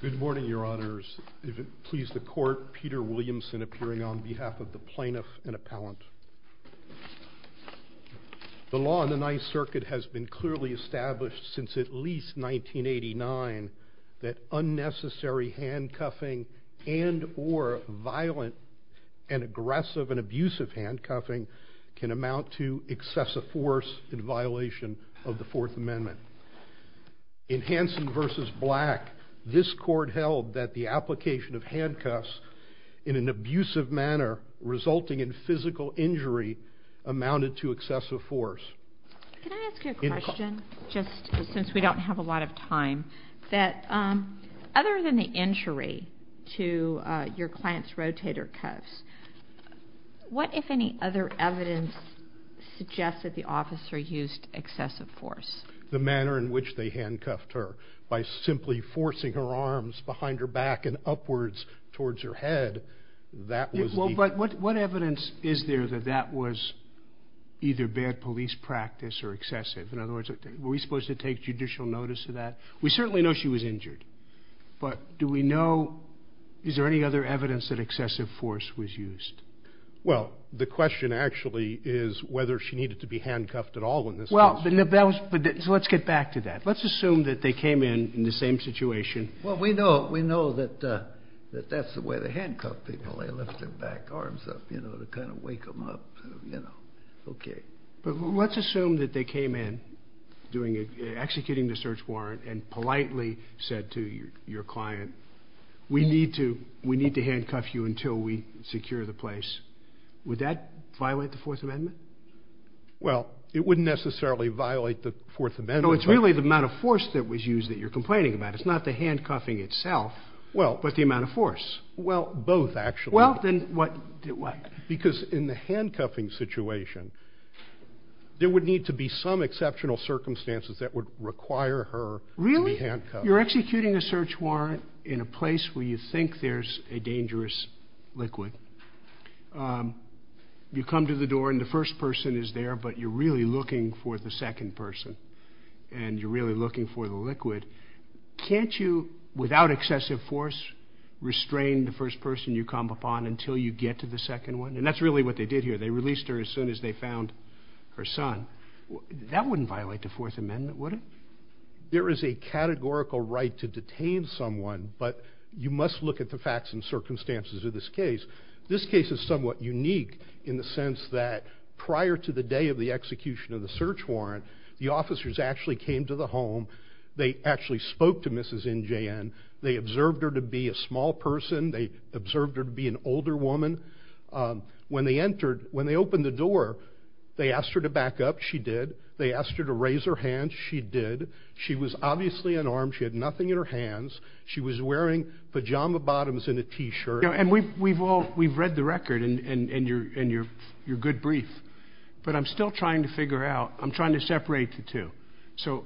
Good morning, Your Honors. It pleases the Court, Peter Williamson appearing on behalf of the Plaintiff and Appellant. The law in the Ninth Circuit has been clearly established since at least 1989 that unnecessary handcuffing and or violent and aggressive and abusive handcuffing can amount to excessive force in violation of the Fourth Amendment. In Hansen v. Black, this Court held that the application of handcuffs in an abusive manner resulting in physical injury amounted to excessive force. Can I ask you a question, just since we don't have a lot of time, that other than the injury to your client's rotator cuffs, what if any other evidence suggests that the officer used excessive force? The manner in which they handcuffed her by simply forcing her arms behind her back and upwards towards her head. What evidence is there that that was either bad police practice or excessive? In other words, were we supposed to take judicial notice of that? We certainly know she was injured, but do we know, is there any other evidence that excessive force was used? Well, the question actually is whether she needed to be handcuffed at all in this case. So let's get back to that. Let's assume that they came in in the same situation. Well, we know that that's the way they handcuff people. They lift their back arms up, you know, to kind of wake them up. But let's assume that they came in executing the search warrant and politely said to your client, we need to handcuff you until we secure the place. Would that violate the Fourth Amendment? Well, it wouldn't necessarily violate the Fourth Amendment. No, it's really the amount of force that was used that you're complaining about. It's not the handcuffing itself, but the amount of force. Well, both actually. Well, then what? Because in the handcuffing situation, there would need to be some exceptional circumstances that would require her to be handcuffed. Really? You're executing a search warrant in a place where you think there's a dangerous liquid. You come to the door and the first person is there, but you're really looking for the second person. And you're really looking for the liquid. Can't you, without excessive force, restrain the first person you come upon until you get to the second one? And that's really what they did here. They released her as soon as they found her son. That wouldn't violate the Fourth Amendment, would it? There is a categorical right to detain someone, but you must look at the facts and circumstances of this case. This case is somewhat unique in the sense that prior to the day of the execution of the search warrant, the officers actually came to the home. They actually spoke to Mrs. NJN. They observed her to be a small person. They observed her to be an older woman. When they opened the door, they asked her to back up. She did. They asked her to raise her hand. She did. She was obviously unarmed. She had nothing in her hands. She was wearing pajama bottoms and a t-shirt. And we've read the record and your good brief, but I'm still trying to figure out, I'm trying to separate the two. So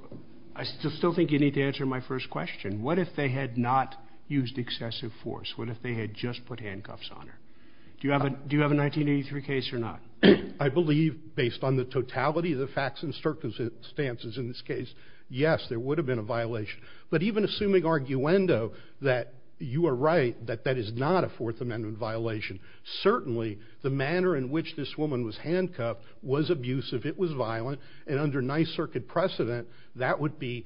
I still think you need to answer my first question. What if they had not used excessive force? What if they had just put handcuffs on her? Do you have a 1983 case or not? I believe, based on the totality of the facts and circumstances in this case, yes, there would have been a violation. But even assuming arguendo that you are right, that that is not a Fourth Amendment violation, certainly the manner in which this woman was handcuffed was abusive, it was violent, and under Ninth Circuit precedent, that would be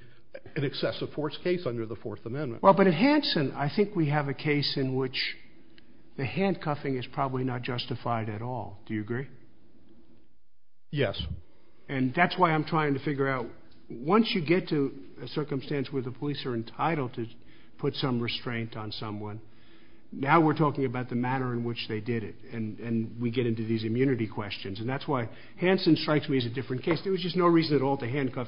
an excessive force case under the Fourth Amendment. Well, but in Hanson, I think we have a case in which the handcuffing is probably not justified at all. Do you agree? Yes. And that's why I'm trying to figure out, once you get to a circumstance where the police are entitled to put some restraint on someone, now we're talking about the manner in which they did it, and we get into these immunity questions. And that's why Hanson strikes me as a different case. There was just no reason at all to handcuff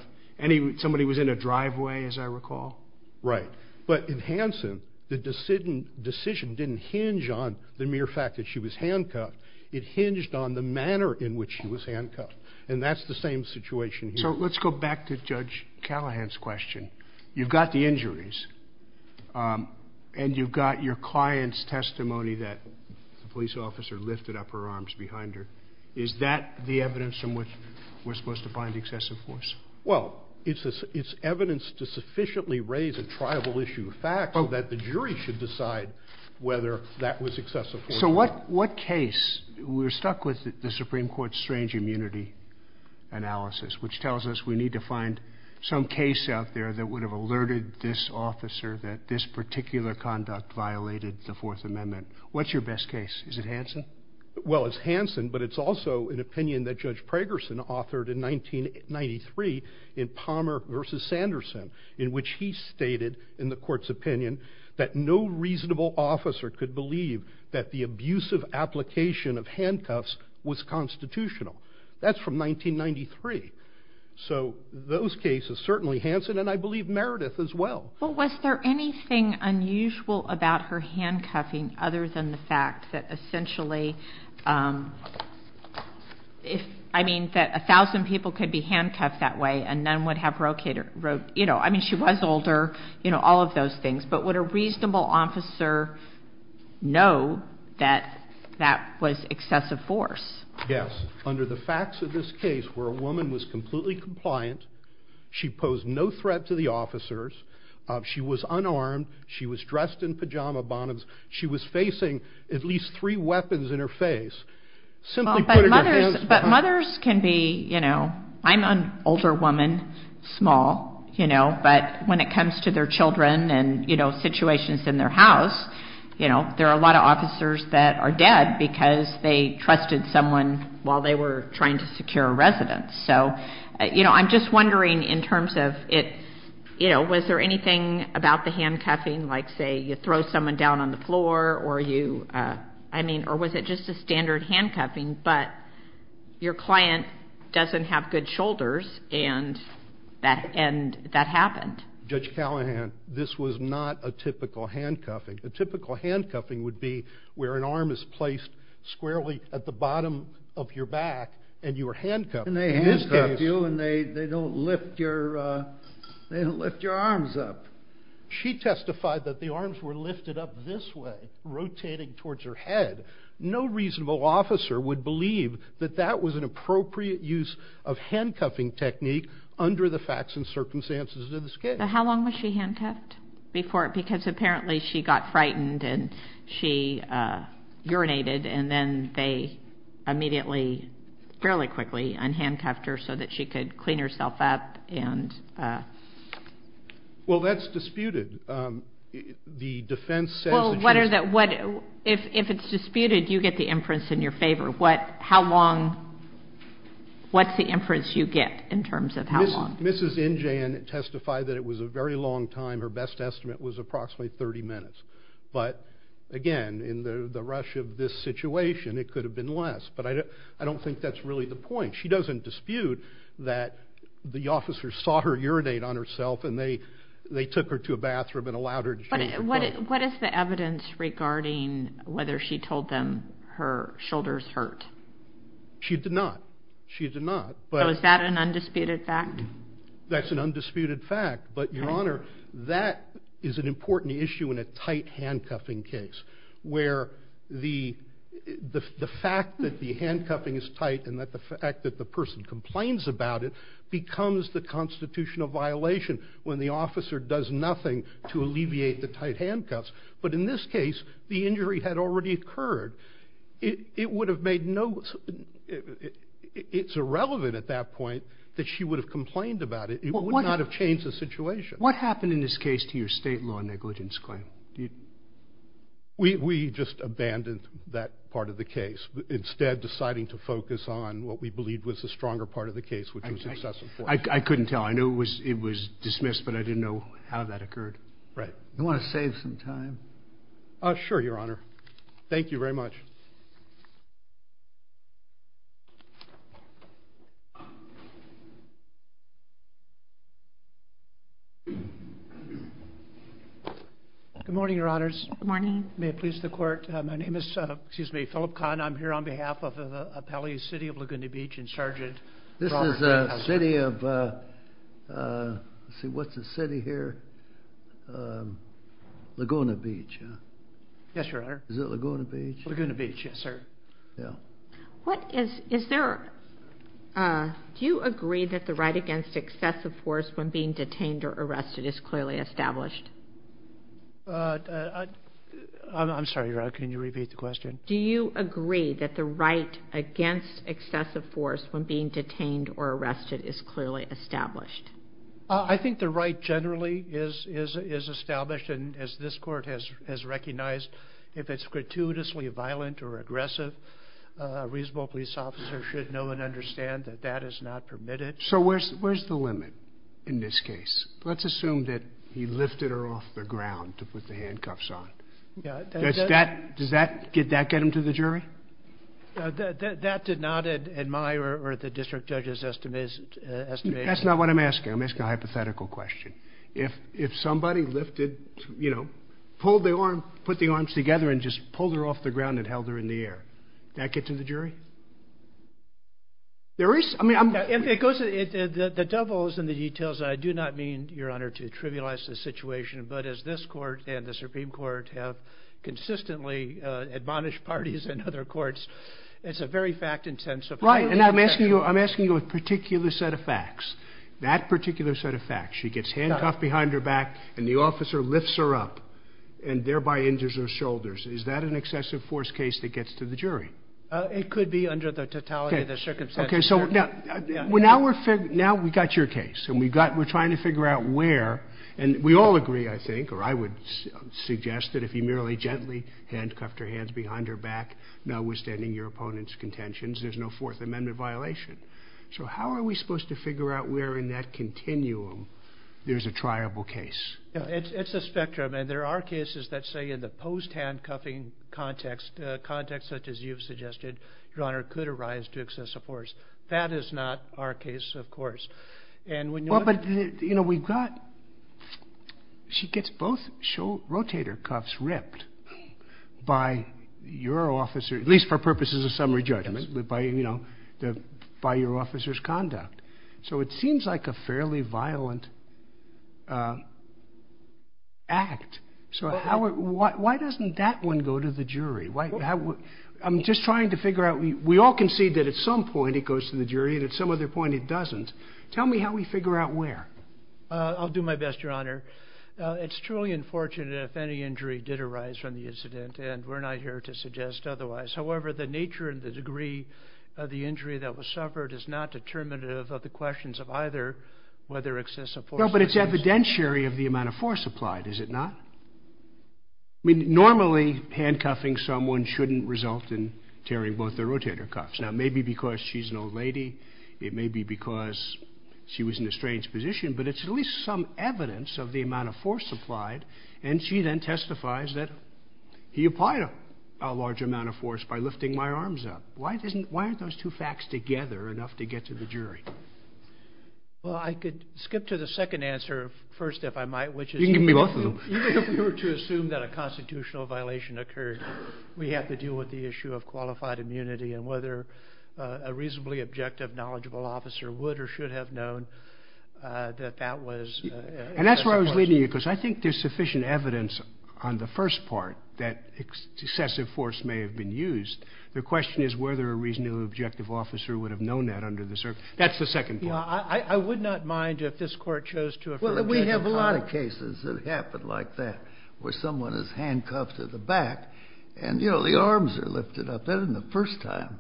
somebody who was in a driveway, as I recall. Right. But in Hanson, the decision didn't hinge on the mere fact that she was handcuffed. It hinged on the manner in which she was handcuffed, and that's the same situation here. So let's go back to Judge Callahan's question. You've got the injuries, and you've got your client's testimony that the police officer lifted up her arms behind her. Is that the evidence from which we're supposed to find excessive force? Well, it's evidence to sufficiently raise a tribal issue of fact that the jury should decide whether that was excessive force or not. So what case? We're stuck with the Supreme Court's strange immunity analysis, which tells us we need to find some case out there that would have alerted this officer that this particular conduct violated the Fourth Amendment. Well, it's Hanson, but it's also an opinion that Judge Pragerson authored in 1993 in Palmer v. Sanderson, in which he stated in the court's opinion that no reasonable officer could believe that the abusive application of handcuffs was constitutional. That's from 1993. So those cases, certainly Hanson, and I believe Meredith as well. Well, was there anything unusual about her handcuffing other than the fact that essentially if, I mean, that a thousand people could be handcuffed that way and none would have roped, you know, I mean, she was older, you know, all of those things. But would a reasonable officer know that that was excessive force? Yes. Under the facts of this case where a woman was completely compliant, she posed no threat to the officers, she was unarmed, she was dressed in pajama bottoms, she was facing at least three weapons in her face. But mothers can be, you know, I'm an older woman, small, you know, but when it comes to their children and, you know, situations in their house, you know, there are a lot of officers that are dead because they trusted someone while they were trying to secure a residence. So, you know, I'm just wondering in terms of it, you know, was there anything about the handcuffing, like say you throw someone down on the floor or you, I mean, or was it just a standard handcuffing, but your client doesn't have good shoulders and that happened? Judge Callahan, this was not a typical handcuffing. A typical handcuffing would be where an arm is placed squarely at the bottom of your back and you were handcuffed. And they handcuff you and they don't lift your arms up. She testified that the arms were lifted up this way, rotating towards her head. No reasonable officer would believe that that was an appropriate use of handcuffing technique under the facts and circumstances of this case. How long was she handcuffed before, because apparently she got frightened and she urinated and then they immediately, fairly quickly, unhandcuffed her so that she could clean herself up and... Well, that's disputed. The defense says... Well, what are the, if it's disputed, you get the inference in your favor. What, how long, what's the inference you get in terms of how long? Mrs. Injan testified that it was a very long time. Her best estimate was approximately 30 minutes. But, again, in the rush of this situation, it could have been less. But I don't think that's really the point. She doesn't dispute that the officers saw her urinate on herself and they took her to a bathroom and allowed her to change her clothes. But what is the evidence regarding whether she told them her shoulders hurt? She did not. She did not. So is that an undisputed fact? That's an undisputed fact. But, Your Honor, that is an important issue in a tight handcuffing case where the fact that the handcuffing is tight and the fact that the person complains about it becomes the constitutional violation when the officer does nothing to alleviate the tight handcuffs. But in this case, the injury had already occurred. It would have made no... It's irrelevant at that point that she would have complained about it. It would not have changed the situation. What happened in this case to your state law negligence claim? We just abandoned that part of the case, instead deciding to focus on what we believed was the stronger part of the case, which was excessive force. I couldn't tell. I knew it was dismissed, but I didn't know how that occurred. Right. Do you want to save some time? Sure, Your Honor. Thank you very much. Good morning, Your Honors. Good morning. May it please the Court. My name is Philip Kahn. I'm here on behalf of the appellees, City of Laguna Beach, and Sergeant Robert Whitehouse. This is the city of... Let's see, what's the city here? Laguna Beach, huh? Yes, Your Honor. Is it Laguna Beach? Laguna Beach, yes, sir. Yeah. Do you agree that the right against excessive force when being detained or arrested is clearly established? I'm sorry, Your Honor. Can you repeat the question? Do you agree that the right against excessive force when being detained or arrested is clearly established? I think the right generally is established, as this Court has recognized, if it's gratuitously violent or aggressive, a reasonable police officer should know and understand that that is not permitted. So where's the limit in this case? Let's assume that he lifted her off the ground to put the handcuffs on. Does that get him to the jury? That did not, in my or the district judge's estimation... That's not what I'm asking. I'm asking a hypothetical question. If somebody lifted, you know, pulled the arm, put the arms together, and just pulled her off the ground and held her in the air, did that get to the jury? There is, I mean, I'm... The devil is in the details. I do not mean, Your Honor, to trivialize the situation, but as this Court and the Supreme Court have consistently admonished parties in other courts, it's a very fact-intensive question. Right, and I'm asking you a particular set of facts. That particular set of facts, she gets handcuffed behind her back and the officer lifts her up and thereby injures her shoulders, is that an excessive force case that gets to the jury? It could be under the totality of the circumstances. Okay, so now we've got your case, and we're trying to figure out where, and we all agree, I think, or I would suggest, that if he merely gently handcuffed her hands behind her back, notwithstanding your opponent's contentions, there's no Fourth Amendment violation. So how are we supposed to figure out where in that continuum there's a triable case? It's a spectrum, and there are cases that say in the post-handcuffing context, contexts such as you've suggested, Your Honor, could arise to excessive force. That is not our case, of course. Well, but, you know, we've got... She gets both rotator cuffs ripped by your officer, at least for purposes of summary judgment, by your officer's conduct. So it seems like a fairly violent act. So why doesn't that one go to the jury? I'm just trying to figure out. We all concede that at some point it goes to the jury, and at some other point it doesn't. Tell me how we figure out where. I'll do my best, Your Honor. It's truly unfortunate if any injury did arise from the incident, and we're not here to suggest otherwise. However, the nature and the degree of the injury that was suffered is not determinative of the questions of either whether excessive force... No, but it's evidentiary of the amount of force applied, is it not? I mean, normally, handcuffing someone shouldn't result in tearing both their rotator cuffs. Now, it may be because she's an old lady. It may be because she was in a strange position, but it's at least some evidence of the amount of force applied, and she then testifies that he applied a large amount of force by lifting my arms up. Why aren't those two facts together enough to get to the jury? Well, I could skip to the second answer first, if I might. You can give me both of them. Even if we were to assume that a constitutional violation occurred, we have to deal with the issue of qualified immunity and whether a reasonably objective, knowledgeable officer would or should have known that that was excessive force. And that's where I was leading you, because I think there's sufficient evidence on the first part that excessive force may have been used. The question is whether a reasonably objective officer would have known that under the circumstances. That's the second part. I would not mind if this Court chose to... Well, we have a lot of cases that happen like that, where someone is handcuffed to the back, and, you know, the arms are lifted up. That isn't the first time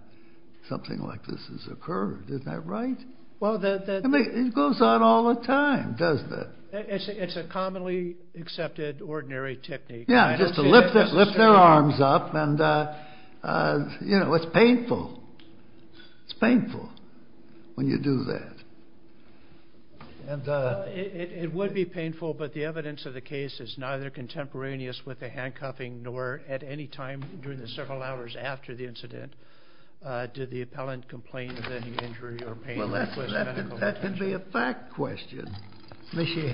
something like this has occurred. Isn't that right? I mean, it goes on all the time, doesn't it? It's a commonly accepted, ordinary technique. Yeah, just to lift their arms up, and, you know, it's painful. It's painful when you do that. It would be painful, but the evidence of the case is neither contemporaneous with the handcuffing nor at any time during the several hours after the incident did the appellant complain of any injury or pain... Well, that can be a fact question. She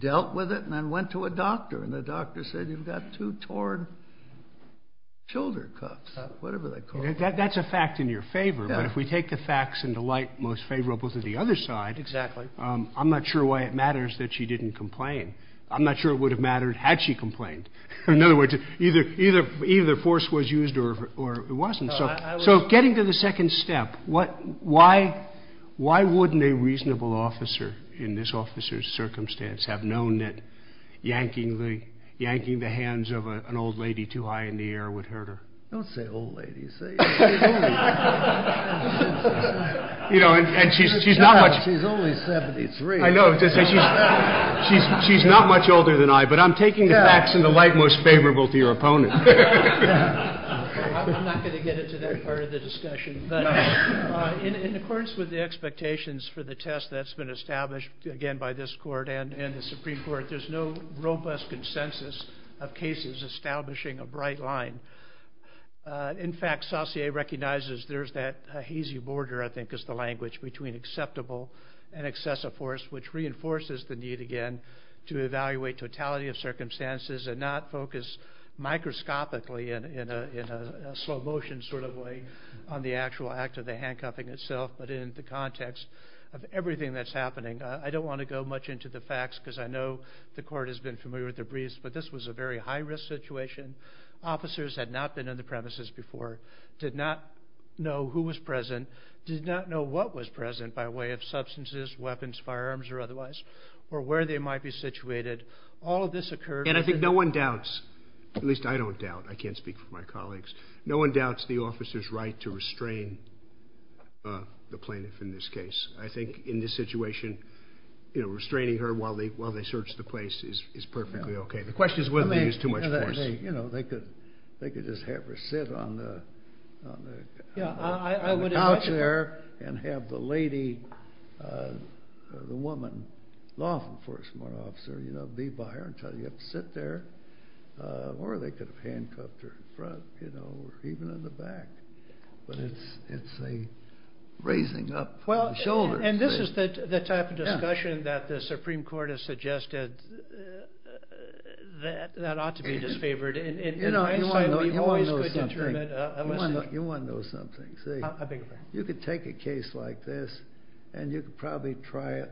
dealt with it and then went to a doctor, and the doctor said, you've got two torn shoulder cuffs, whatever they're called. That's a fact in your favor, but if we take the facts into light most favorable to the other side... Exactly. I'm not sure why it matters that she didn't complain. I'm not sure it would have mattered had she complained. In other words, either force was used or it wasn't. So getting to the second step, why wouldn't a reasonable officer in this officer's circumstance have known that yanking the hands of an old lady too high in the air would hurt her? Don't say old lady. Say... You know, and she's not much... She's only 73. I know. She's not much older than I, but I'm taking the facts into light most favorable to your opponent. I'm not going to get into that part of the discussion, but in accordance with the expectations for the test that's been established, again, by this court and the Supreme Court, there's no robust consensus of cases establishing a bright line. In fact, Saussure recognizes there's that hazy border, I think, is the language, between acceptable and excessive force, which reinforces the need, again, to evaluate totality of circumstances and not focus microscopically in a slow-motion sort of way on the actual act of the handcuffing itself, but in the context of everything that's happening. I don't want to go much into the facts because I know the court has been familiar with the briefs, but this was a very high-risk situation. Officers had not been on the premises before, did not know who was present, did not know what was present by way of substances, weapons, firearms, or otherwise, or where they might be situated. All of this occurred... And I think no one doubts, at least I don't doubt, I can't speak for my colleagues, no one doubts the officer's right to restrain the plaintiff in this case. I think in this situation, restraining her while they search the place is perfectly okay. The question is whether they used too much force. They could just have her sit on the couch there and have the lady, the woman, law enforcement officer, you know, be by her and tell her you have to sit there, or they could have handcuffed her in front, you know, or even in the back. But it's a raising up of the shoulders. And this is the type of discussion that the Supreme Court has suggested that ought to be disfavored. You know, you want to know something. You want to know something, see? You could take a case like this, and you could probably try it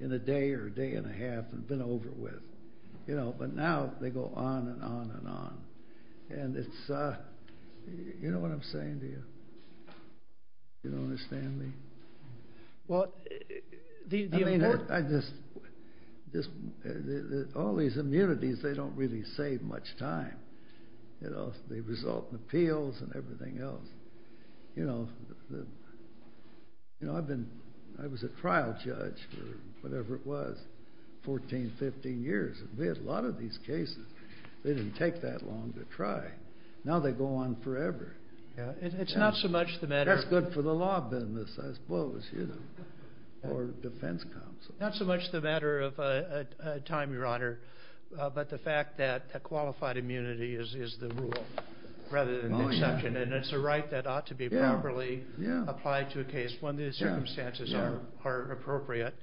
in a day or a day and a half and have been over with, you know. But now they go on and on and on. And it's a... You know what I'm saying to you? You don't understand me? Well, the important... I mean, I just... All these immunities, they don't really save much time. They result in appeals and everything else. You know, I've been... I was a trial judge for whatever it was, 14, 15 years. We had a lot of these cases. They didn't take that long to try. Now they go on forever. It's not so much the matter... That's good for the law business, I suppose, you know, or defense counsel. Not so much the matter of time, Your Honor, but the fact that qualified immunity is the rule rather than an exception. And it's a right that ought to be properly applied to a case when the circumstances are appropriate.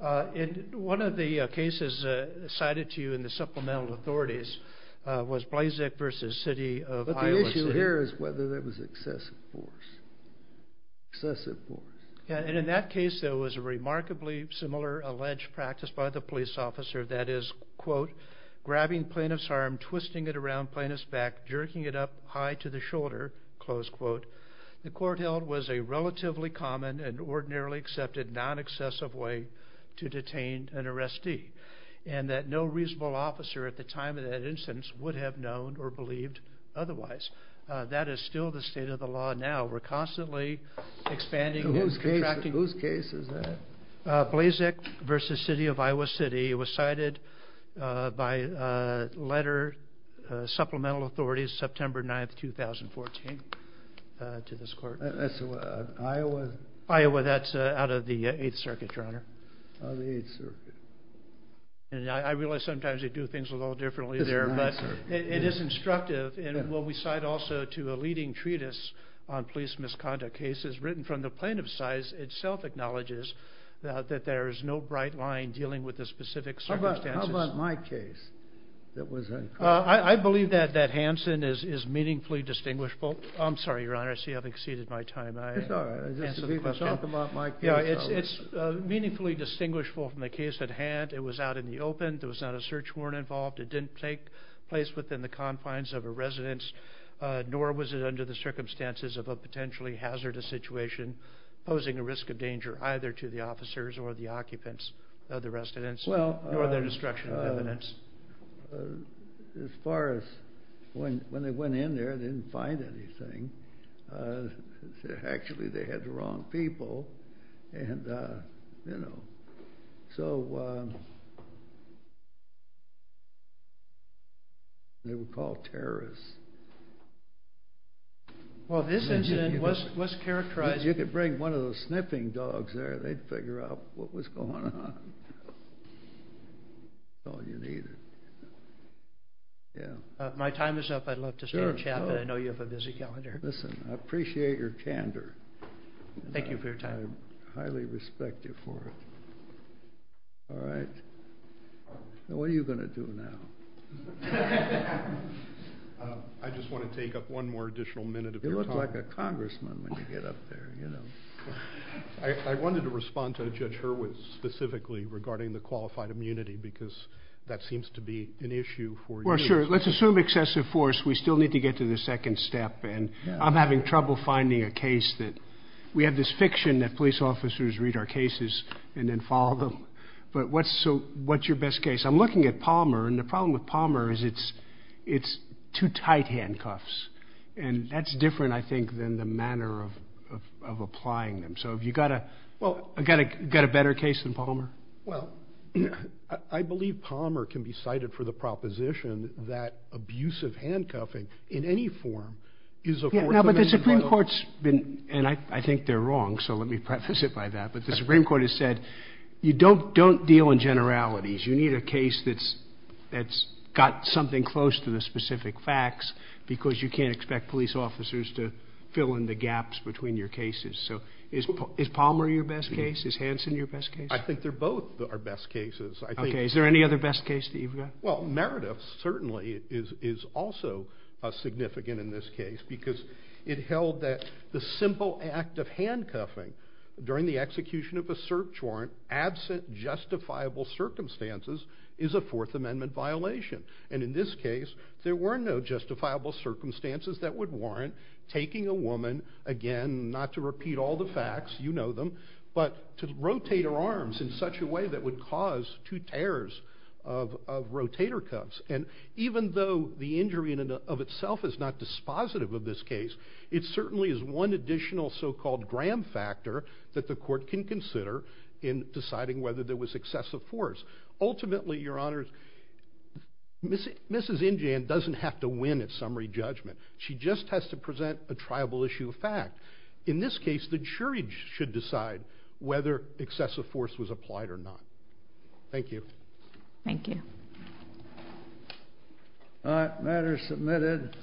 And one of the cases cited to you in the supplemental authorities was Blazek v. City of Iowa City. But the issue here is whether there was excessive force. Excessive force. And in that case, there was a remarkably similar alleged practice by the police officer that is, quote, grabbing plaintiff's arm, twisting it around plaintiff's back, jerking it up high to the shoulder, close quote. The court held was a relatively common and ordinarily accepted non-excessive way to detain an arrestee. And that no reasonable officer at the time of that instance would have known or believed otherwise. That is still the state of the law now. We're constantly expanding and contracting... Whose case is that? Blazek v. City of Iowa City. It was cited by letter, supplemental authorities, September 9th, 2014 to this court. Iowa? Iowa. That's out of the 8th Circuit, Your Honor. Out of the 8th Circuit. And I realize sometimes they do things a little differently there, but it is instructive. And what we cite also to a leading treatise on police misconduct cases written from the plaintiff's side itself acknowledges that there is no bright line dealing with the specific circumstances. How about my case? I believe that Hanson is meaningfully distinguishable. I'm sorry, Your Honor, I see I've exceeded my time. It's all right. It's meaningfully distinguishable from the case at hand. It was out in the open. There was not a search warrant involved. It didn't take place within the confines of a residence, nor was it under the circumstances of a potentially hazardous situation posing a risk of danger either to the officers or the occupants of the residence nor their destruction of evidence. As far as when they went in there, they didn't find anything. Actually, they had the wrong people. So they were called terrorists. Well, this incident was characterized... If you could bring one of those sniffing dogs there, they'd figure out what was going on. That's all you needed. My time is up. I'd love to stay and chat, but I know you have a busy calendar. Listen, I appreciate your candor. Thank you for your time. I highly respect you for it. All right. What are you going to do now? I just want to take up one more additional minute of your time. You look like a congressman when you get up there, you know. I wanted to respond to Judge Hurwitz specifically regarding the qualified immunity because that seems to be an issue for you. Well, sure. Let's assume excessive force. We still need to get to the second step, and I'm having trouble finding a case that we have this fiction that police officers read our cases and then follow them. But what's your best case? I'm looking at Palmer, and the problem with Palmer is it's too tight handcuffs, and that's different, I think, than the manner of applying them. So have you got a better case than Palmer? Well, I believe Palmer can be cited for the proposition that abusive handcuffing, in any form, is a court- Yeah, but the Supreme Court's been, and I think they're wrong, so let me preface it by that. But the Supreme Court has said you don't deal in generalities. You need a case that's got something close to the specific facts because you can't expect police officers to fill in the gaps between your cases. So is Palmer your best case? Is Hanson your best case? I think they're both our best cases. Okay. Is there any other best case that you've got? Well, Meredith certainly is also significant in this case because it held that the simple act of handcuffing during the execution of a search warrant, absent justifiable circumstances, is a Fourth Amendment violation. And in this case, there were no justifiable circumstances that would warrant taking a woman, again, not to repeat all the facts, you know them, but to rotate her arms in such a way that would cause two tears of rotator cuffs. And even though the injury of itself is not dispositive of this case, it certainly is one additional so-called gram factor that the court can consider in deciding whether there was excessive force. Ultimately, Your Honors, Mrs. Injan doesn't have to win at summary judgment. She just has to present a triable issue of fact. In this case, the jury should decide whether excessive force was applied or not. Thank you. Thank you. All right, matter submitted.